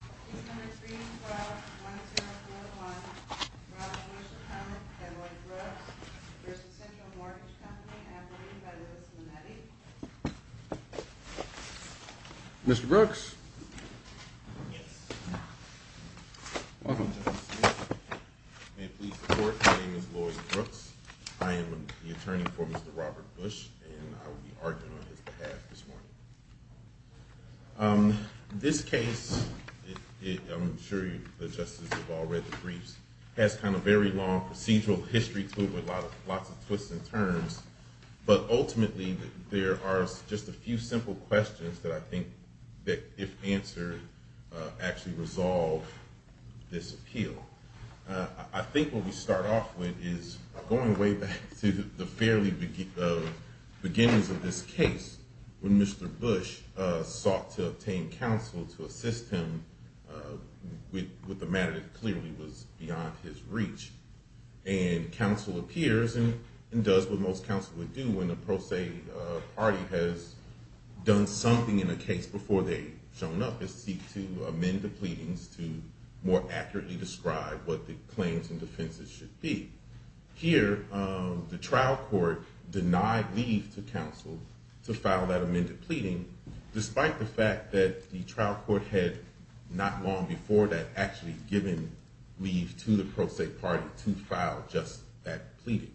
Please come to 312-1041 Robert Bush Apartment at Lloyd Brooks v. Central Mortgage Company after reading by Liz Minetti. Mr. Brooks? Yes. Welcome. May it please the court, my name is Lloyd Brooks. I am the attorney for Mr. Robert Bush and I will be arguing on his behalf this morning. This case, I'm sure the justices have all read the briefs, has a very long procedural history to it with lots of twists and turns, but ultimately there are just a few simple questions that I think, if answered, actually resolve this appeal. I think what we start off with is going way back to the fairly beginnings of this case when Mr. Bush sought to obtain counsel to assist him with the matter that clearly was beyond his reach. And counsel appears and does what most counsel would do when the pro se party has done something in a case before they have shown up, is seek to amend the pleadings to more accurately describe what the claims and defenses should be. Here, the trial court denied leave to counsel to file that amended pleading, despite the fact that the trial court had not long before that actually given leave to the pro se party to file just that pleading.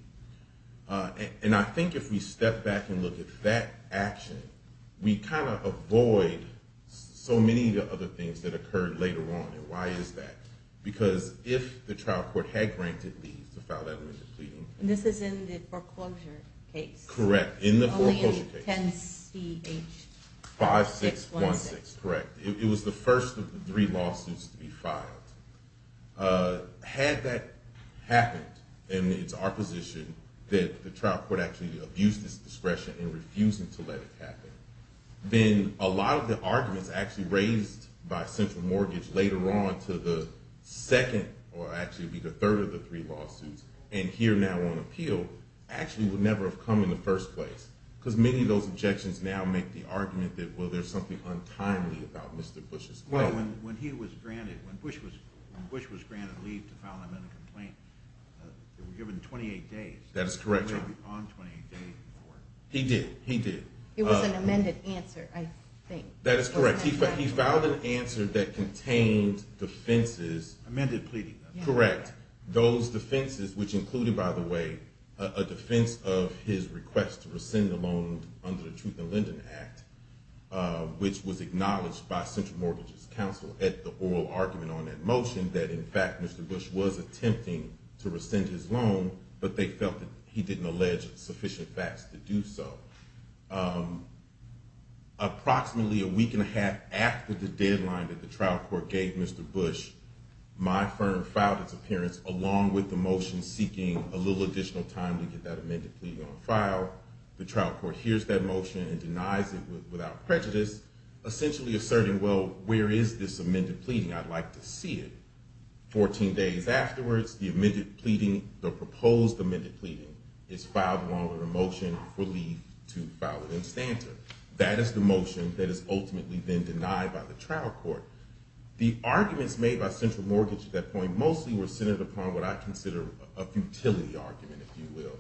And I think if we step back and look at that action, we kind of avoid so many of the other things that occurred later on. Why is that? Because if the trial court had granted leave to file that amended pleading… And this is in the foreclosure case? Correct, in the foreclosure case. Only in 10 CH 5616? 5616, correct. It was the first of the three lawsuits to be filed. Had that happened, and it's our position that the trial court actually abused its discretion in refusing to let it happen, then a lot of the arguments actually raised by Central Mortgage later on to the second, or actually be the third of the three lawsuits, and here now on appeal, actually would never have come in the first place. Because many of those objections now make the argument that, well, there's something untimely about Mr. Bush's claim. When he was granted, when Bush was granted leave to file an amended complaint, it was given 28 days. That is correct, Your Honor. It was on 28 days before. He did, he did. It was an amended answer, I think. That is correct. He filed an answer that contained defenses… Amended pleading. Correct. Those defenses, which included, by the way, a defense of his request to rescind the loan under the Truth in Lending Act, which was acknowledged by Central Mortgage's counsel at the oral argument on that motion, that in fact Mr. Bush was attempting to rescind his loan, but they felt that he didn't allege sufficient facts to do so. Approximately a week and a half after the deadline that the trial court gave Mr. Bush, my firm filed its appearance, along with the motion seeking a little additional time to get that amended pleading on file. The trial court hears that motion and denies it without prejudice, essentially asserting, well, where is this amended pleading? I'd like to see it. Fourteen days afterwards, the amended pleading, the proposed amended pleading, is filed along with a motion for leave to file it in standard. That is the motion that has ultimately been denied by the trial court. The arguments made by Central Mortgage at that point mostly were centered upon what I consider a futility argument, if you will.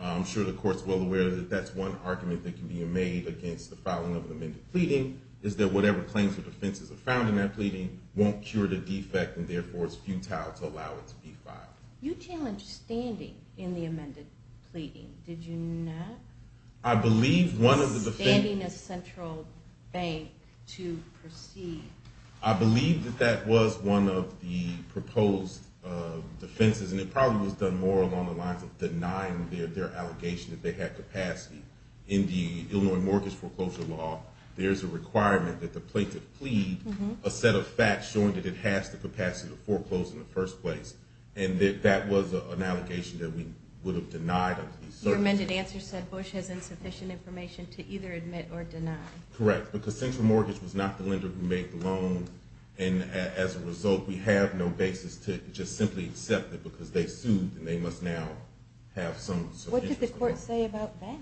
I'm sure the Court is well aware that that's one argument that can be made against the filing of an amended pleading, is that whatever claims or defenses are found in that pleading won't cure the defect and therefore it's futile to allow it to be filed. You challenged standing in the amended pleading, did you not? I believe one of the defenses… Standing as Central Bank to proceed. I believe that that was one of the proposed defenses, and it probably was done more along the lines of denying their allegation that they had capacity in the Illinois mortgage foreclosure law. There's a requirement that the plaintiff plead a set of facts showing that it has the capacity to foreclose in the first place, and that that was an allegation that we would have denied. Your amended answer said Bush has insufficient information to either admit or deny. Correct, because Central Mortgage was not the lender who made the loan, and as a result we have no basis to just simply accept it because they sued and they must now have some… What did the court say about that?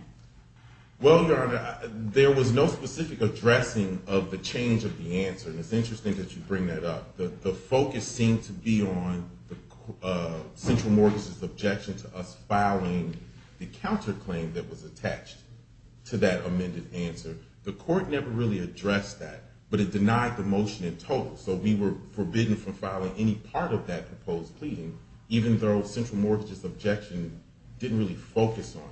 Well, Your Honor, there was no specific addressing of the change of the answer, and it's interesting that you bring that up. The focus seemed to be on Central Mortgage's objection to us filing the counterclaim that was attached to that amended answer. The court never really addressed that, but it denied the motion in total, so we were forbidden from filing any part of that proposed pleading, even though Central Mortgage's objection didn't really focus on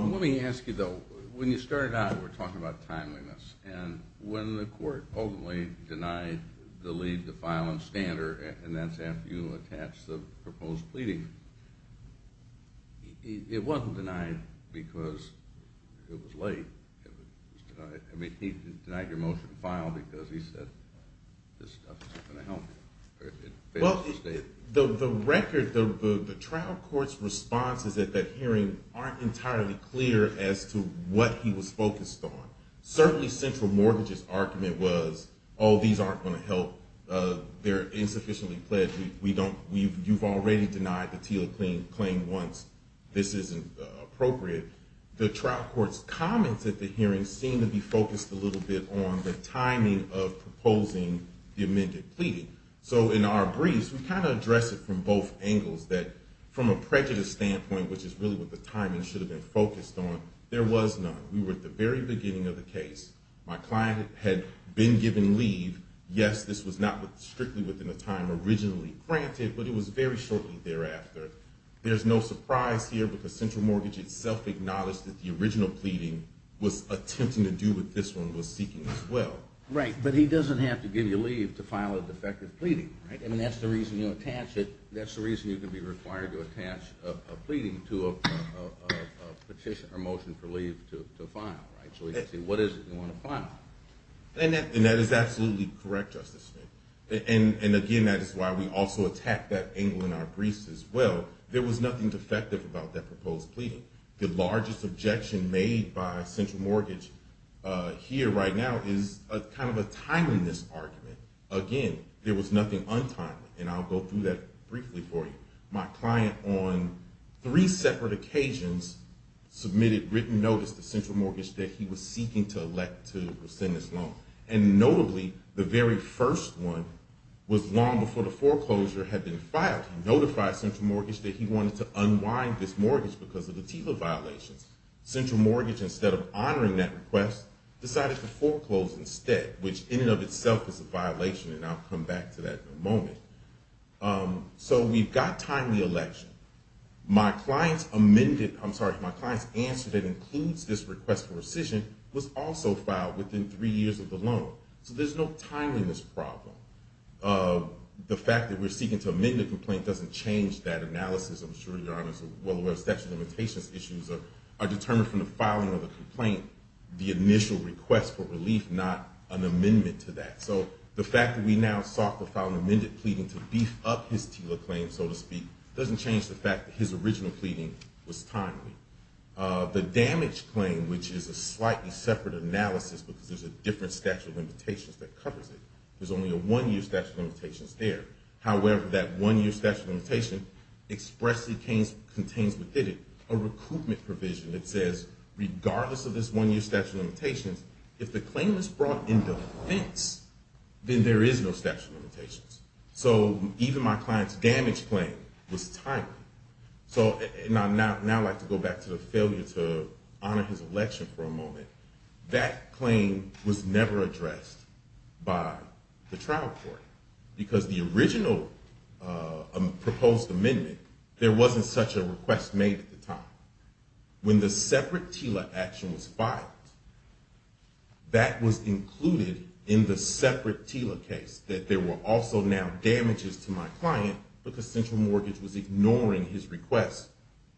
it. Let me ask you though, when you started out we were talking about timeliness, and when the court ultimately denied the lead to file in Stander, and that's after you attached the proposed pleading, it wasn't denied because it was late. I mean, he denied your motion to file because he said this stuff isn't going to help him. Well, the record, the trial court's responses at that hearing aren't entirely clear as to what he was focused on. Certainly Central Mortgage's argument was, oh, these aren't going to help, they're insufficiently pledged, you've already denied the Teal claim once, this isn't appropriate. The trial court's comments at the hearing seemed to be focused a little bit on the timing of proposing the amended pleading. So in our briefs, we kind of address it from both angles, that from a prejudice standpoint, which is really what the timing should have been focused on, there was none. We were at the very beginning of the case. My client had been given leave. Yes, this was not strictly within the time originally granted, but it was very shortly thereafter. There's no surprise here because Central Mortgage itself acknowledged that the original pleading was attempting to do what this one was seeking as well. Right, but he doesn't have to give you leave to file a defective pleading, right? I mean, that's the reason you attach it. That's the reason you're going to be required to attach a pleading to a petition or motion for leave to file, right? So you can see what is it you want to file. And that is absolutely correct, Justice Smith. And again, that is why we also attack that angle in our briefs as well. There was nothing defective about that proposed pleading. The largest objection made by Central Mortgage here right now is kind of a timeliness argument. Again, there was nothing untimely, and I'll go through that briefly for you. My client on three separate occasions submitted written notice to Central Mortgage that he was seeking to elect to rescind this loan. And notably, the very first one was long before the foreclosure had been filed. He notified Central Mortgage that he wanted to unwind this mortgage because of the TIFA violations. Central Mortgage, instead of honoring that request, decided to foreclose instead, which in and of itself is a violation, and I'll come back to that in a moment. So we've got timely election. My client's amended – I'm sorry, my client's answer that includes this request for rescission was also filed within three years of the loan. So there's no timeliness problem. The fact that we're seeking to amend the complaint doesn't change that analysis. I'm sure Your Honors are well aware of statute of limitations issues are determined from the filing of the complaint, the initial request for relief, not an amendment to that. So the fact that we now sought to file an amended pleading to beef up his TILA claim, so to speak, doesn't change the fact that his original pleading was timely. The damage claim, which is a slightly separate analysis because there's a different statute of limitations that covers it. There's only a one-year statute of limitations there. However, that one-year statute of limitations expressly contains within it a recoupment provision that says regardless of this one-year statute of limitations, if the claim is brought in defense, then there is no statute of limitations. So even my client's damage claim was timely. So now I'd like to go back to the failure to honor his election for a moment. That claim was never addressed by the trial court because the original proposed amendment, there wasn't such a request made at the time. When the separate TILA action was filed, that was included in the separate TILA case, that there were also now damages to my client because Central Mortgage was ignoring his request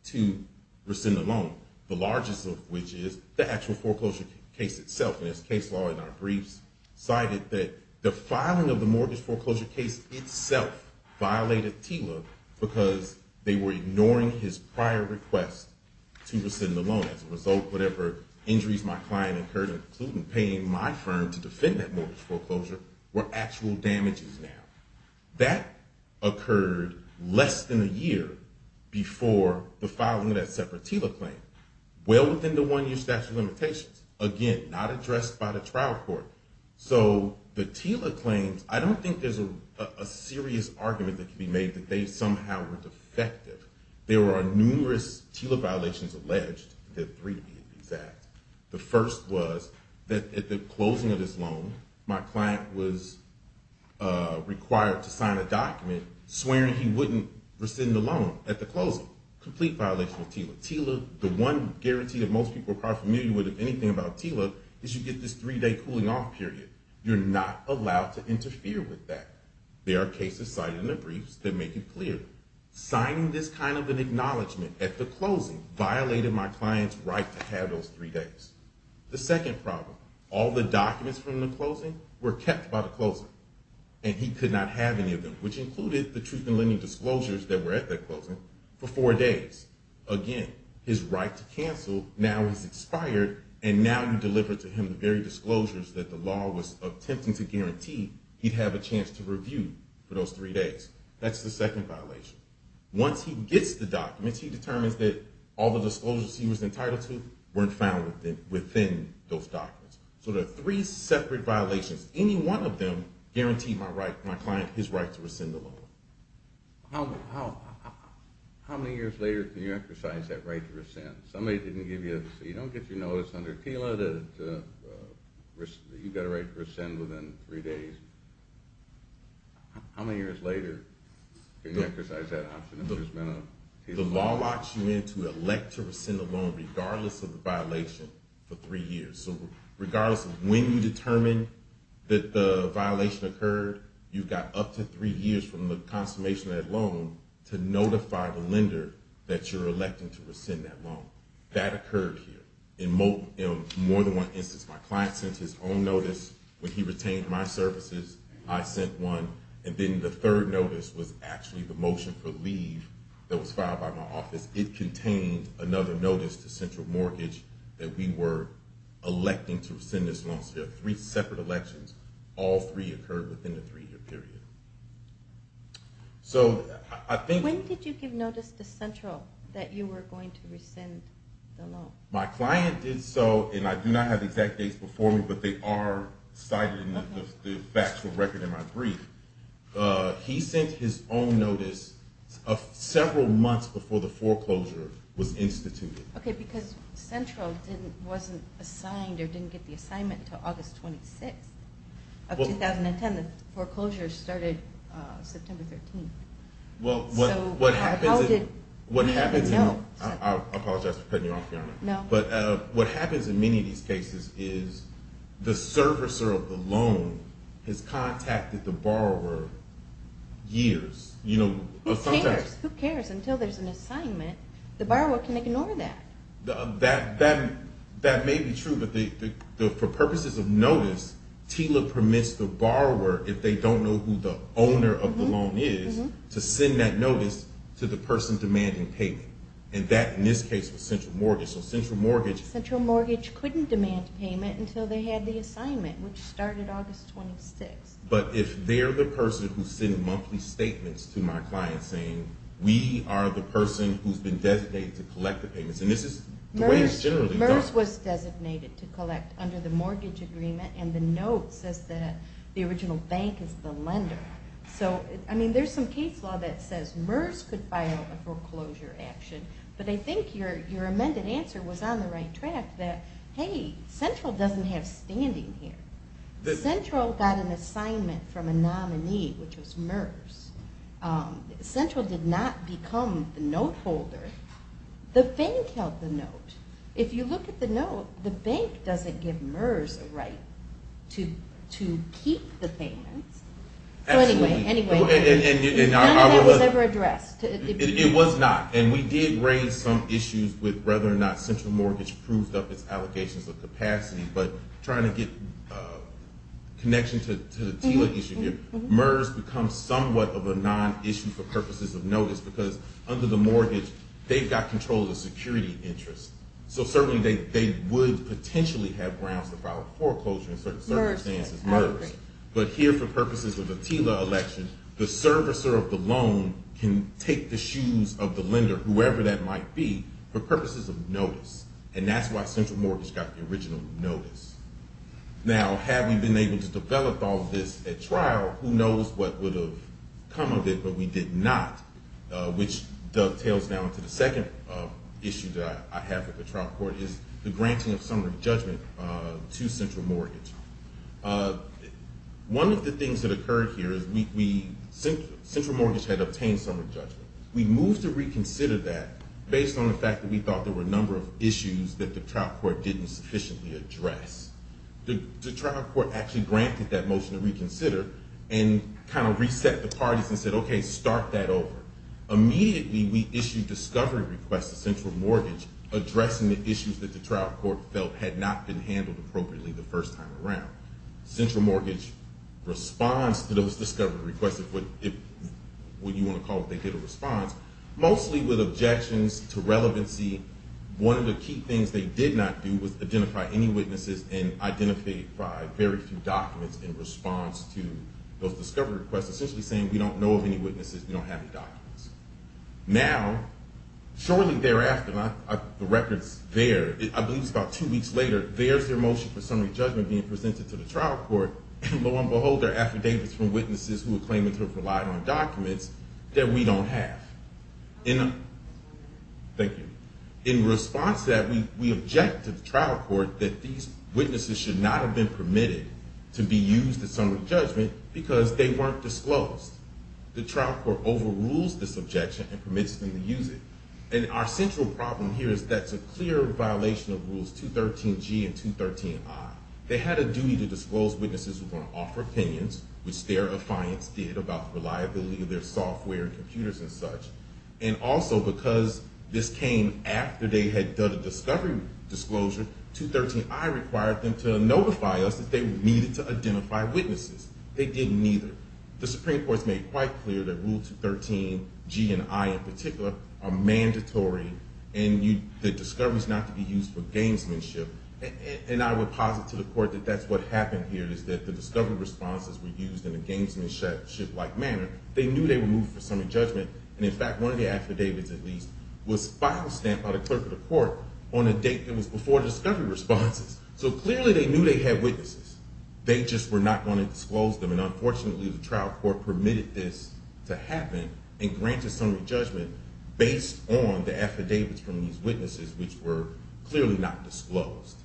to rescind the loan, the largest of which is the actual foreclosure case itself. And this case law in our briefs cited that the filing of the mortgage foreclosure case itself violated TILA because they were ignoring his prior request to rescind the loan. As a result, whatever injuries my client incurred, including paying my firm to defend that mortgage foreclosure, were actual damages now. That occurred less than a year before the filing of that separate TILA claim, well within the one-year statute of limitations. Again, not addressed by the trial court. So the TILA claims, I don't think there's a serious argument that can be made that they somehow were defective. There are numerous TILA violations alleged, there are three to be exact. The first was that at the closing of his loan, my client was required to sign a document swearing he wouldn't rescind the loan at the closing. Complete violation of TILA. The one guarantee that most people are probably familiar with anything about TILA is you get this three-day cooling off period. You're not allowed to interfere with that. There are cases cited in the briefs that make it clear. Signing this kind of an acknowledgment at the closing violated my client's right to have those three days. The second problem, all the documents from the closing were kept by the closing. And he could not have any of them, which included the truth in lending disclosures that were at that closing for four days. Again, his right to cancel now has expired, and now you deliver to him the very disclosures that the law was attempting to guarantee he'd have a chance to review for those three days. That's the second violation. Once he gets the documents, he determines that all the disclosures he was entitled to weren't found within those documents. So there are three separate violations. Any one of them guaranteed my client his right to rescind the loan. How many years later can you exercise that right to rescind? Somebody didn't give you – so you don't get your notice under TILA that you've got a right to rescind within three days. How many years later can you exercise that option if there's been a TILA violation? The law locks you in to elect to rescind the loan regardless of the violation for three years. So regardless of when you determine that the violation occurred, you've got up to three years from the consummation of that loan to notify the lender that you're electing to rescind that loan. That occurred here in more than one instance. My client sent his own notice. When he retained my services, I sent one. And then the third notice was actually the motion for leave that was filed by my office. It contained another notice to Central Mortgage that we were electing to rescind this loan. So you have three separate elections. All three occurred within the three-year period. When did you give notice to Central that you were going to rescind the loan? My client did so, and I do not have the exact dates before me, but they are cited in the factual record in my brief. He sent his own notice several months before the foreclosure was instituted. Okay, because Central wasn't assigned or didn't get the assignment until August 26th of 2010. The foreclosure started September 13th. I apologize for cutting you off, Your Honor. What happens in many of these cases is the servicer of the loan has contacted the borrower years. Who cares? Until there's an assignment, the borrower can ignore that. That may be true, but for purposes of notice, TILA permits the borrower, if they don't know who the owner of the loan is, to send that notice to the person demanding payment. And that, in this case, was Central Mortgage. So Central Mortgage— Central Mortgage couldn't demand payment until they had the assignment, which started August 26th. But if they're the person who's sending monthly statements to my client saying, we are the person who's been designated to collect the payments, and this is the way it's generally done. MERS was designated to collect under the mortgage agreement, and the note says that the original bank is the lender. So, I mean, there's some case law that says MERS could file a foreclosure action, but I think your amended answer was on the right track that, hey, Central doesn't have standing here. Central did not become the note holder. The bank held the note. If you look at the note, the bank doesn't give MERS a right to keep the payments. So anyway, none of that was ever addressed. It was not, and we did raise some issues with whether or not Central Mortgage proved up its allegations of capacity. But trying to get a connection to the TILA issue here, MERS becomes somewhat of a non-issue for purposes of notice because under the mortgage, they've got control of the security interest. So certainly they would potentially have grounds to file a foreclosure in certain circumstances. But here, for purposes of the TILA election, the servicer of the loan can take the shoes of the lender, whoever that might be, for purposes of notice. And that's why Central Mortgage got the original notice. Now, had we been able to develop all of this at trial, who knows what would have come of it, but we did not, which dovetails down to the second issue that I have with the trial court, is the granting of summary judgment to Central Mortgage. One of the things that occurred here is Central Mortgage had obtained summary judgment. We moved to reconsider that based on the fact that we thought there were a number of issues that the trial court didn't sufficiently address. The trial court actually granted that motion to reconsider and kind of reset the parties and said, okay, start that over. Immediately, we issued discovery requests to Central Mortgage addressing the issues that the trial court felt had not been handled appropriately the first time around. Central Mortgage responds to those discovery requests, what you want to call it, they did a response, mostly with objections to relevancy. One of the key things they did not do was identify any witnesses and identify very few documents in response to those discovery requests, essentially saying we don't know of any witnesses, we don't have any documents. Now, shortly thereafter, the records there, I believe it's about two weeks later, there's their motion for summary judgment being presented to the trial court, and lo and behold, there are affidavits from witnesses who are claiming to have relied on documents that we don't have. In response to that, we object to the trial court that these witnesses should not have been permitted to be used at summary judgment because they weren't disclosed. The trial court overrules this objection and permits them to use it. And our central problem here is that's a clear violation of Rules 213G and 213I. They had a duty to disclose witnesses who were going to offer opinions, which their affiance did about reliability of their software and computers and such. And also because this came after they had done a discovery disclosure, 213I required them to notify us that they needed to identify witnesses. They didn't either. The Supreme Court's made quite clear that Rule 213G and I in particular are mandatory, and the discovery's not to be used for gamesmanship. And I would posit to the court that that's what happened here, is that the discovery responses were used in a gamesmanship-like manner. They knew they were moving for summary judgment, and in fact, one of the affidavits, at least, was file stamped by the clerk of the court on a date that was before discovery responses. So clearly they knew they had witnesses. They just were not going to disclose them, and unfortunately, the trial court permitted this to happen and granted summary judgment based on the affidavits from these witnesses, which were clearly not disclosed.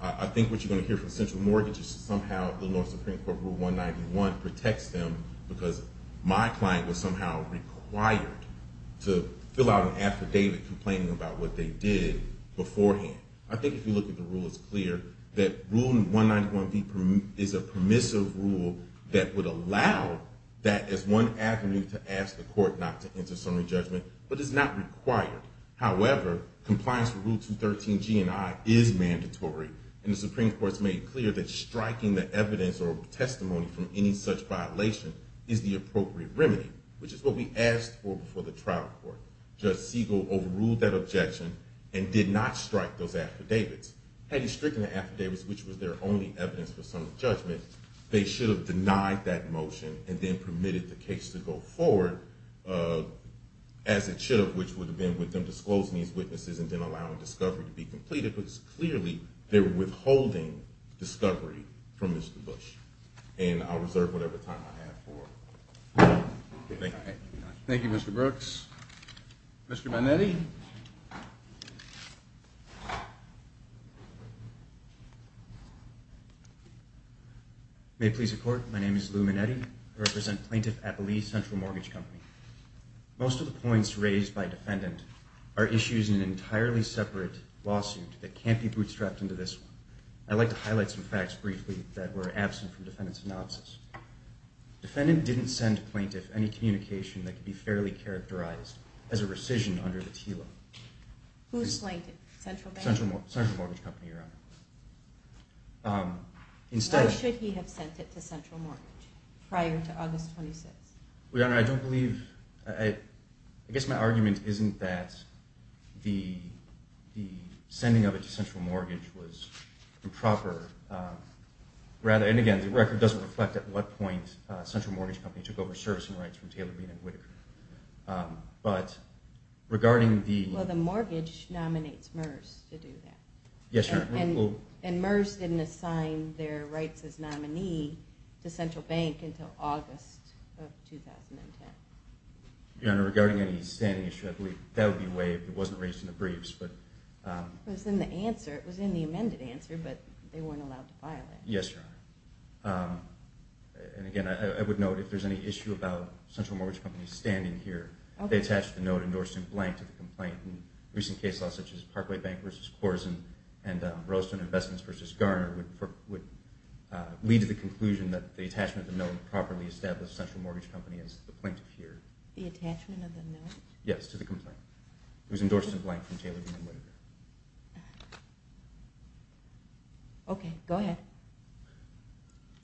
I think what you're going to hear from central mortgage is somehow Illinois Supreme Court Rule 191 protects them because my client was somehow required to fill out an affidavit complaining about what they did beforehand. I think if you look at the rule, it's clear that Rule 191B is a permissive rule that would allow that as one avenue to ask the court not to enter summary judgment, but it's not required. However, compliance with Rule 213G and I is mandatory, and the Supreme Court's made clear that striking the evidence or testimony from any such violation is the appropriate remedy, which is what we asked for before the trial court. Judge Siegel overruled that objection and did not strike those affidavits. Had he stricken the affidavits, which was their only evidence for summary judgment, they should have denied that motion and then permitted the case to go forward as it should have, which would have been with them disclosing these witnesses and then allowing discovery to be completed, because clearly they were withholding discovery from Mr. Bush. And I'll reserve whatever time I have for it. Thank you, Mr. Brooks. Mr. Manetti. May it please the Court, my name is Lou Manetti. I represent Plaintiff Appelee Central Mortgage Company. Most of the points raised by defendant are issues in an entirely separate lawsuit that can't be bootstrapped into this one. I'd like to highlight some facts briefly that were absent from defendant's analysis. Defendant didn't send plaintiff any communication that could be fairly characterized as a rescission under the TILA. Who slinked it, Central Bank? Central Mortgage Company, Your Honor. Why should he have sent it to Central Mortgage prior to August 26th? Your Honor, I don't believe, I guess my argument isn't that the sending of it to Central Mortgage was improper. And again, the record doesn't reflect at what point Central Mortgage Company took over servicing rights from Taylor Bean and Whitaker. But regarding the... Well, the mortgage nominates MERS to do that. Yes, Your Honor. And MERS didn't assign their rights as nominee to Central Bank until August of 2010. Your Honor, regarding any standing issue, I believe that would be waived. It wasn't raised in the briefs. It was in the answer. It was in the amended answer, but they weren't allowed to file it. Yes, Your Honor. And again, I would note if there's any issue about Central Mortgage Company standing here, they attached the note, endorsed in blank, to the complaint. Recent case laws such as Parkway Bank v. Korsen and Roleston Investments v. Garner would lead to the conclusion that the attachment of the note properly established Central Mortgage Company as the plaintiff here. The attachment of the note? Yes, to the complaint. It was endorsed in blank from Taylor Bean and Whitaker. Okay, go ahead.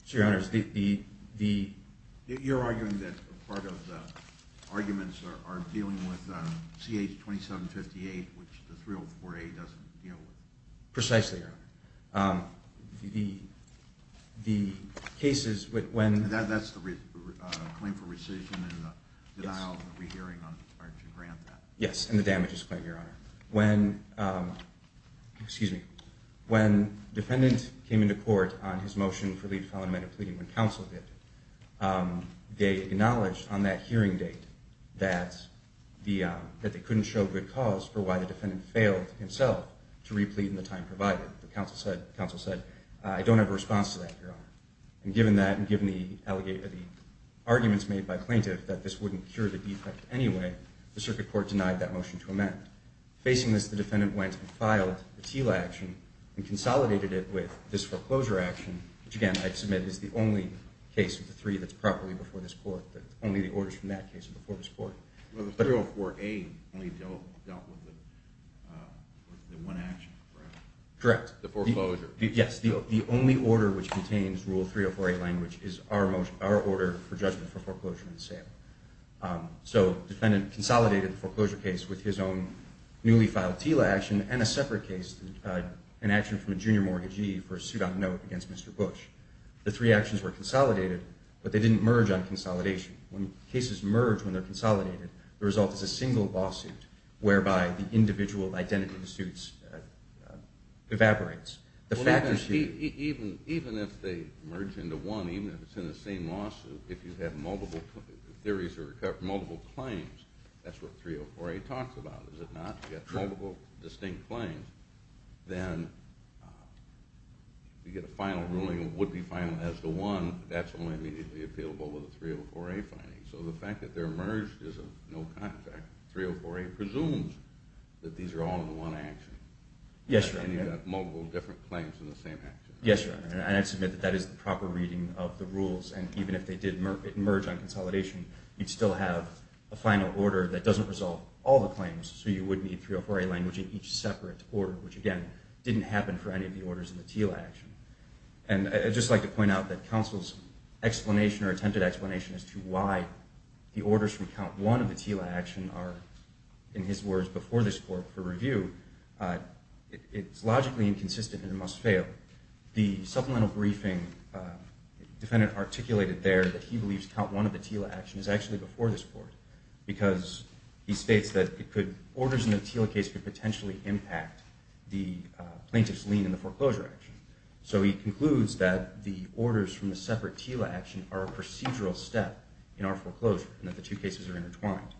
So, Your Honor, the... You're arguing that part of the arguments are dealing with CH-2758, which the 304A doesn't deal with. Precisely, Your Honor. The cases when... That's the claim for rescission and the denial of the re-hearing are to grant that. Yes, and the damages claim, Your Honor. When... Excuse me. When the defendant came into court on his motion for leave to file an amendment of pleading when counsel did, they acknowledged on that hearing date that they couldn't show good cause for why the defendant failed himself to re-plead in the time provided. I don't have a response to that, Your Honor. And given that, and given the arguments made by the plaintiff that this wouldn't cure the defect anyway, the circuit court denied that motion to amend. Facing this, the defendant went and filed a TILA action and consolidated it with this foreclosure action, which, again, I submit is the only case of the three that's properly before this court, only the orders from that case are before this court. Well, the 304A only dealt with the one action, correct? Correct. The foreclosure. Yes. The only order which contains Rule 304A language is our order for judgment for foreclosure and sale. So the defendant consolidated the foreclosure case with his own newly filed TILA action and a separate case, an action from a junior mortgagee for a suit on note against Mr. Bush. The three actions were consolidated, but they didn't merge on consolidation. When cases merge when they're consolidated, the result is a single lawsuit, whereby the individual identity of the suit evaporates. Even if they merge into one, even if it's in the same lawsuit, if you have multiple theories or multiple claims, that's what 304A talks about, is it not? You have multiple distinct claims, then you get a final ruling, it would be final as to one, but that's only immediately appealable with a 304A finding. So the fact that they're merged is a no-contract. 304A presumes that these are all in one action. Yes, Your Honor. And you have multiple different claims in the same action. Yes, Your Honor. And I'd submit that that is the proper reading of the rules, and even if they did merge on consolidation, you'd still have a final order that doesn't resolve all the claims, so you would need 304A language in each separate order, which, again, didn't happen for any of the orders in the TILA action. And I'd just like to point out that counsel's explanation or attempted explanation as to why the orders from count one of the TILA action are, in his words, before this court for review, it's logically inconsistent and must fail. The supplemental briefing defendant articulated there that he believes count one of the TILA action is actually before this court because he states that orders in the TILA case could potentially impact the plaintiff's lien in the foreclosure action. So he concludes that the orders from the separate TILA action are a procedural step in our foreclosure and that the two cases are intertwined.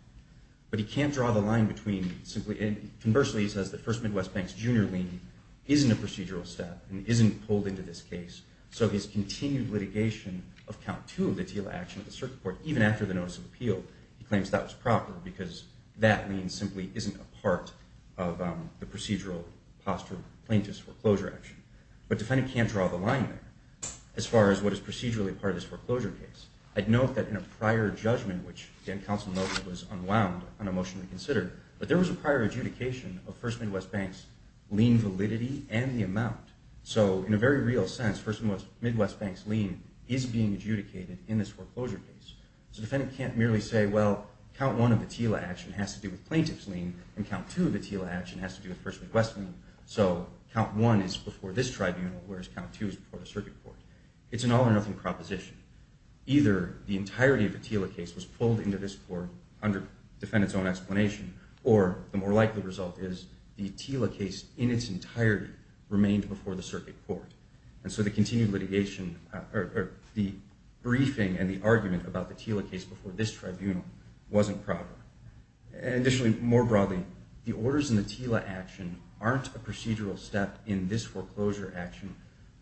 But he can't draw the line between simply— and conversely, he says that First Midwest Bank's junior lien isn't a procedural step and isn't pulled into this case. So his continued litigation of count two of the TILA action at the circuit court, even after the notice of appeal, he claims that was proper because that lien simply isn't a part of the procedural posture of the plaintiff's foreclosure action. But the defendant can't draw the line there as far as what is procedurally part of this foreclosure case. I'd note that in a prior judgment, which again, counsel noted was unwound, unemotionally considered, but there was a prior adjudication of First Midwest Bank's lien validity and the amount. So in a very real sense, First Midwest Bank's lien is being adjudicated in this foreclosure case. So the defendant can't merely say, well, count one of the TILA action has to do with plaintiff's lien and count two of the TILA action has to do with First Midwest Bank. So count one is before this tribunal, whereas count two is before the circuit court. It's an all or nothing proposition. Either the entirety of the TILA case was pulled into this court under defendant's own explanation, or the more likely result is the TILA case in its entirety remained before the circuit court. And so the continued litigation or the briefing and the argument about the TILA case before this tribunal wasn't proper. Additionally, more broadly, the orders in the TILA action aren't a procedural step in this foreclosure action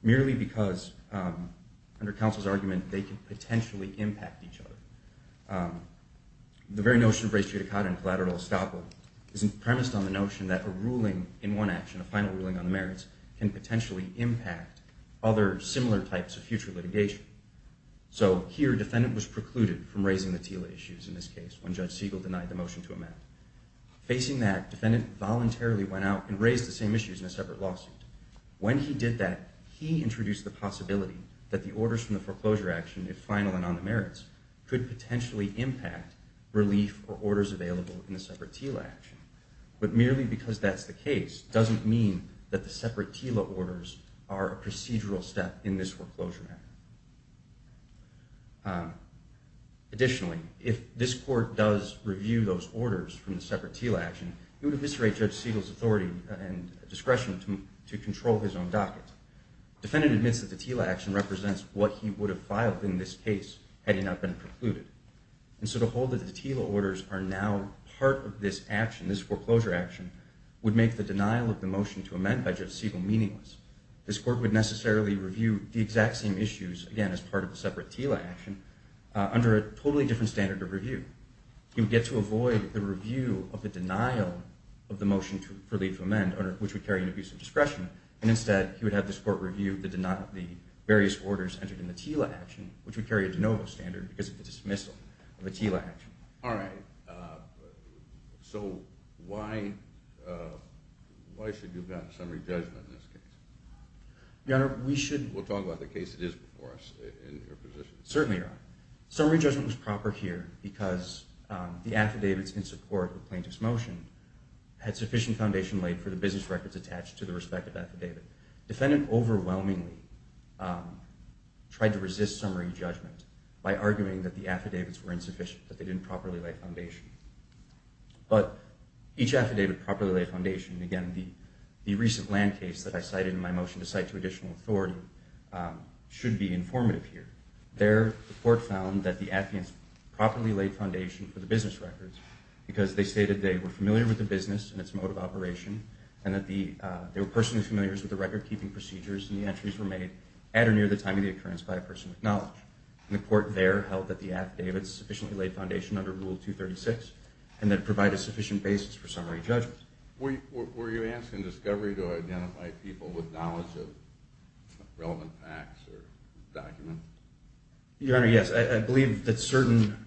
merely because under counsel's argument they could potentially impact each other. The very notion of res judicata and collateral estoppel is premised on the notion that a ruling in one action, a final ruling on the merits, can potentially impact other similar types of future litigation. So here, defendant was precluded from raising the TILA issues in this case when Judge Siegel denied the motion to amend. Facing that, defendant voluntarily went out and raised the same issues in a separate lawsuit. When he did that, he introduced the possibility that the orders from the foreclosure action, if final and on the merits, could potentially impact relief or orders available in the separate TILA action. But merely because that's the case doesn't mean that the separate TILA orders are a procedural step in this foreclosure. Additionally, if this court does review those orders from the separate TILA action, it would eviscerate Judge Siegel's authority and discretion to control his own docket. Defendant admits that the TILA action represents what he would have filed in this case had he not been precluded. And so to hold that the TILA orders are now part of this action, this foreclosure action, would make the denial of the motion to amend by Judge Siegel meaningless. This court would necessarily review the exact same issues, again as part of the separate TILA action, under a totally different standard of review. He would get to avoid the review of the denial of the motion for leave to amend, which would carry an abuse of discretion. And instead, he would have this court review the various orders entered in the TILA action, which would carry a de novo standard because of the dismissal of a TILA action. All right. So why should you pass summary judgment in this case? Your Honor, we should— We'll talk about the case that is before us in your position. Certainly, Your Honor. Summary judgment was proper here because the affidavits in support of the plaintiff's motion had sufficient foundation laid for the business records attached to the respective affidavit. Defendant overwhelmingly tried to resist summary judgment by arguing that the affidavits were insufficient, that they didn't properly lay foundation. But each affidavit properly laid foundation— again, the recent land case that I cited in my motion to cite to additional authority— should be informative here. There, the court found that the affidavits properly laid foundation for the business records because they stated they were familiar with the business and its mode of operation and that they were personally familiar with the record-keeping procedures and the entries were made at or near the time of the occurrence by a person with knowledge. And the court there held that the affidavits sufficiently laid foundation under Rule 236 and that it provided a sufficient basis for summary judgment. Were you asking Discovery to identify people with knowledge of relevant facts or documents? Your Honor, yes. I believe that certain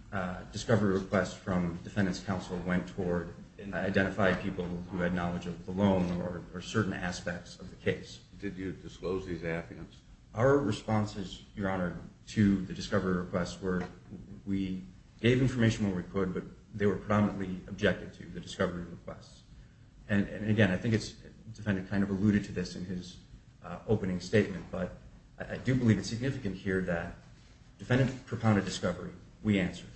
Discovery requests from the Defendant's counsel went toward identifying people who had knowledge of the loan or certain aspects of the case. Did you disclose these affidavits? Our responses, Your Honor, to the Discovery requests were we gave information where we could, but they were predominantly objective to the Discovery requests. And again, I think the Defendant kind of alluded to this in his opening statement, but I do believe it's significant here that the Defendant propounded Discovery. We answered.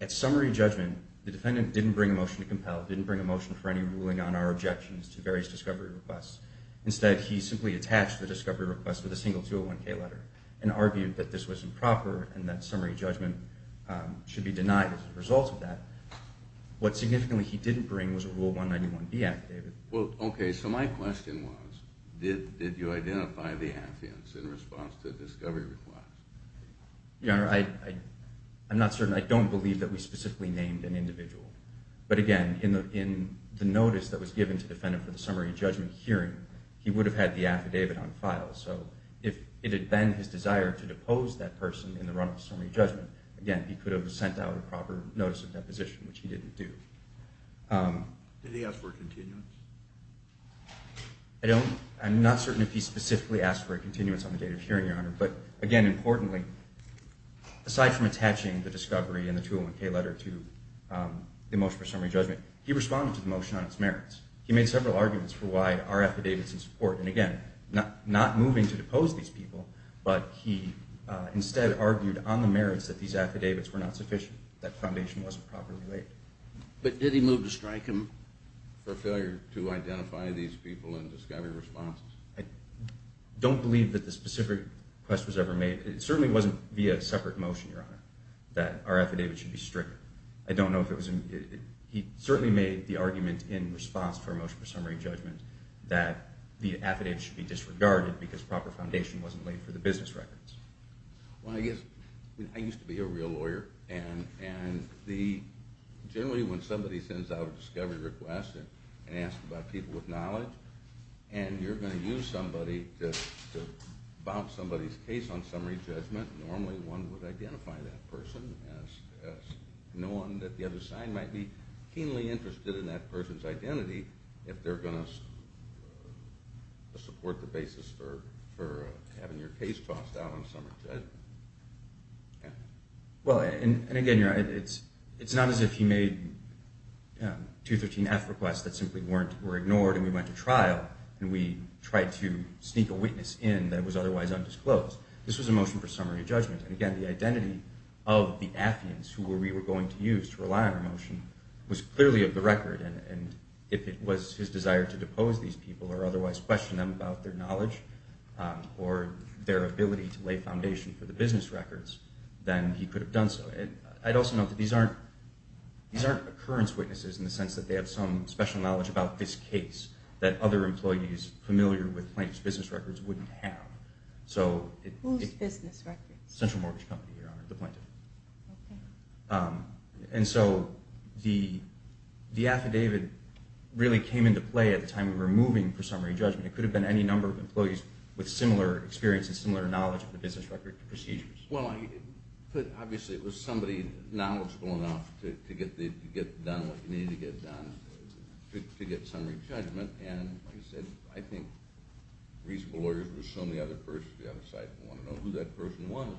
At summary judgment, the Defendant didn't bring a motion to compel, didn't bring a motion for any ruling on our objections to various Discovery requests. Instead, he simply attached the Discovery request with a single 201K letter and argued that this was improper and that summary judgment should be denied as a result of that. What significantly he didn't bring was a Rule 191B affidavit. Well, okay, so my question was did you identify the affidavits in response to Discovery requests? Your Honor, I'm not certain. I don't believe that we specifically named an individual. But again, in the notice that was given to the Defendant for the summary judgment hearing, he would have had the affidavit on file. So if it had been his desire to depose that person in the run-up to summary judgment, again, he could have sent out a proper notice of deposition, which he didn't do. Did he ask for a continuance? I'm not certain if he specifically asked for a continuance on the date of hearing, Your Honor. But again, importantly, aside from attaching the Discovery and the 201K letter to the motion for summary judgment, he responded to the motion on its merits. He made several arguments for why our affidavits in support. And again, not moving to depose these people, but he instead argued on the merits that these affidavits were not sufficient, that foundation wasn't properly laid. But did he move to strike him for failure to identify these people in Discovery responses? I don't believe that the specific request was ever made. It certainly wasn't via a separate motion, Your Honor, that our affidavit should be stricter. I don't know if it was. He certainly made the argument in response to our motion for summary judgment that the affidavit should be disregarded because proper foundation wasn't laid for the business records. I used to be a real lawyer, and generally when somebody sends out a Discovery request and asks about people with knowledge, and you're going to use somebody to bounce somebody's case on summary judgment, normally one would identify that person as knowing that the other side might be keenly interested in that person's identity if they're going to support the basis for having your case tossed out on summary judgment. Well, and again, Your Honor, it's not as if he made 213F requests that simply were ignored and we went to trial and we tried to sneak a witness in that was otherwise undisclosed. This was a motion for summary judgment. And again, the identity of the affidavits who we were going to use to rely on the motion was clearly of the record, and if it was his desire to depose these people or otherwise question them about their knowledge or their ability to lay foundation for the business records, then he could have done so. I'd also note that these aren't occurrence witnesses in the sense that they have some special knowledge about this case that other employees familiar with Plaintiff's business records wouldn't have. Whose business records? Central Mortgage Company, Your Honor, the Plaintiff. Okay. And so the affidavit really came into play at the time we were moving for summary judgment. It could have been any number of employees with similar experience and similar knowledge of the business record procedures. Well, obviously it was somebody knowledgeable enough to get done what needed to get done to get summary judgment, and like I said, I think reasonable lawyers would assume the other side would want to know who that person was.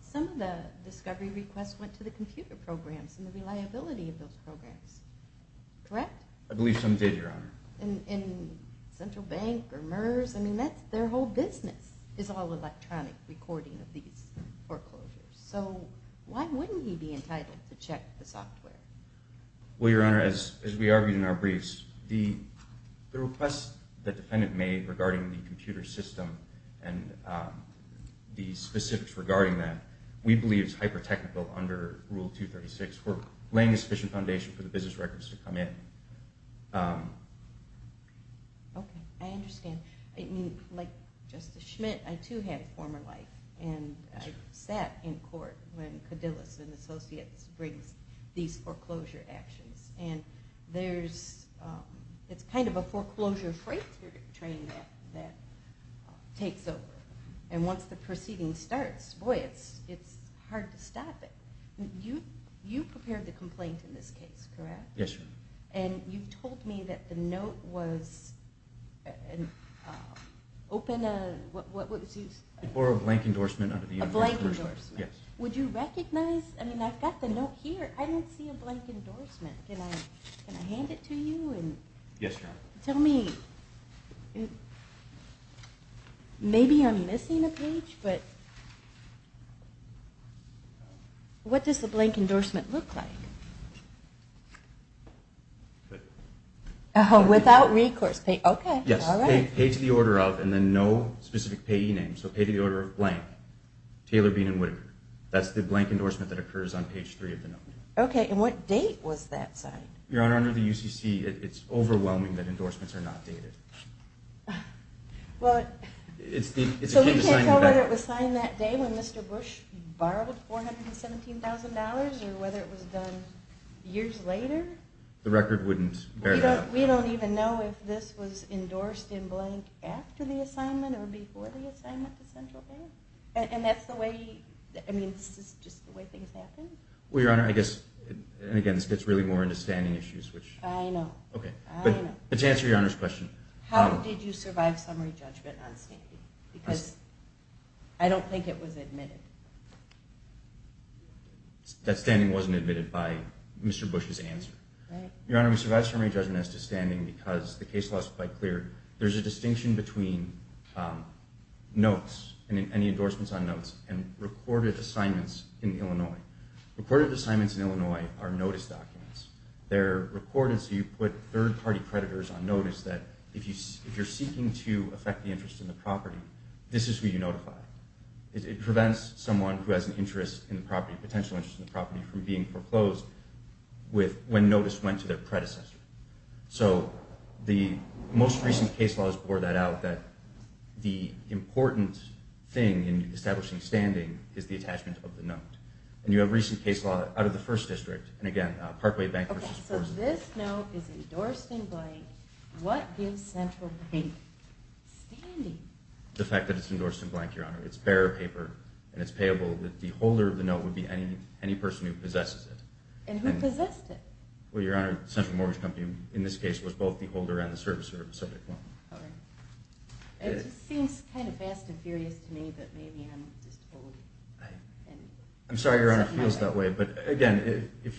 Some of the discovery requests went to the computer programs and the reliability of those programs, correct? I believe some did, Your Honor. In Central Bank or MERS? I mean, their whole business is all electronic recording of these foreclosures, so why wouldn't he be entitled to check the software? Well, Your Honor, as we argued in our briefs, the request the defendant made regarding the computer system and the specifics regarding that, we believe is hyper-technical under Rule 236. We're laying a sufficient foundation for the business records to come in. Okay, I understand. I mean, like Justice Schmidt, I too had a former life, and I sat in court when Cadillac and Associates brings these foreclosure actions, and it's kind of a foreclosure freighter train that takes over, and once the proceeding starts, boy, it's hard to stop it. You prepared the complaint in this case, correct? Yes, Your Honor. And you told me that the note was open, what was used? It bore a blank endorsement. A blank endorsement? Yes. Would you recognize? I mean, I've got the note here. I don't see a blank endorsement. Can I hand it to you? Yes, Your Honor. Tell me, maybe I'm missing a page, but what does the blank endorsement look like? Oh, without recourse. Okay, all right. Page the order of, and then no specific payee name, so page the order of blank, Taylor, Bean, and Whitaker. That's the blank endorsement that occurs on page three of the note. Okay, and what date was that signed? Your Honor, under the UCC, it's overwhelming that endorsements are not dated. So you can't tell whether it was signed that day when Mr. Bush borrowed $417,000 or whether it was done years later? The record wouldn't bear that. We don't even know if this was endorsed in blank after the assignment or before the assignment to Central Bank, and that's the way, I mean, this is just the way things happen? Well, Your Honor, I guess, and again, this gets really more into standing issues. I know. Okay, but to answer Your Honor's question. How did you survive summary judgment on standing? Because I don't think it was admitted. That standing wasn't admitted by Mr. Bush's answer. Right. Your Honor, we survived summary judgment as to standing because the case law is quite clear. There's a distinction between notes and any endorsements on notes and recorded assignments in Illinois. Recorded assignments in Illinois are notice documents. They're recorded so you put third-party creditors on notice that if you're seeking to affect the interest in the property, this is who you notify. It prevents someone who has an interest in the property, potential interest in the property from being foreclosed when notice went to their predecessor. So the most recent case laws bore that out, that the important thing in establishing standing is the attachment of the note. And you have a recent case law out of the First District, and again, Parkway Bankers Association. Okay, so this note is endorsed in blank. What gives Central Bank standing? The fact that it's endorsed in blank, Your Honor. It's bearer paper and it's payable. The holder of the note would be any person who possesses it. And who possessed it? Well, Your Honor, Central Mortgage Company, in this case, was both the holder and the servicer of Subject 1. Okay. It seems kind of fast and furious to me, but maybe I'm just old. I'm sorry, Your Honor, if it feels that way. But again, if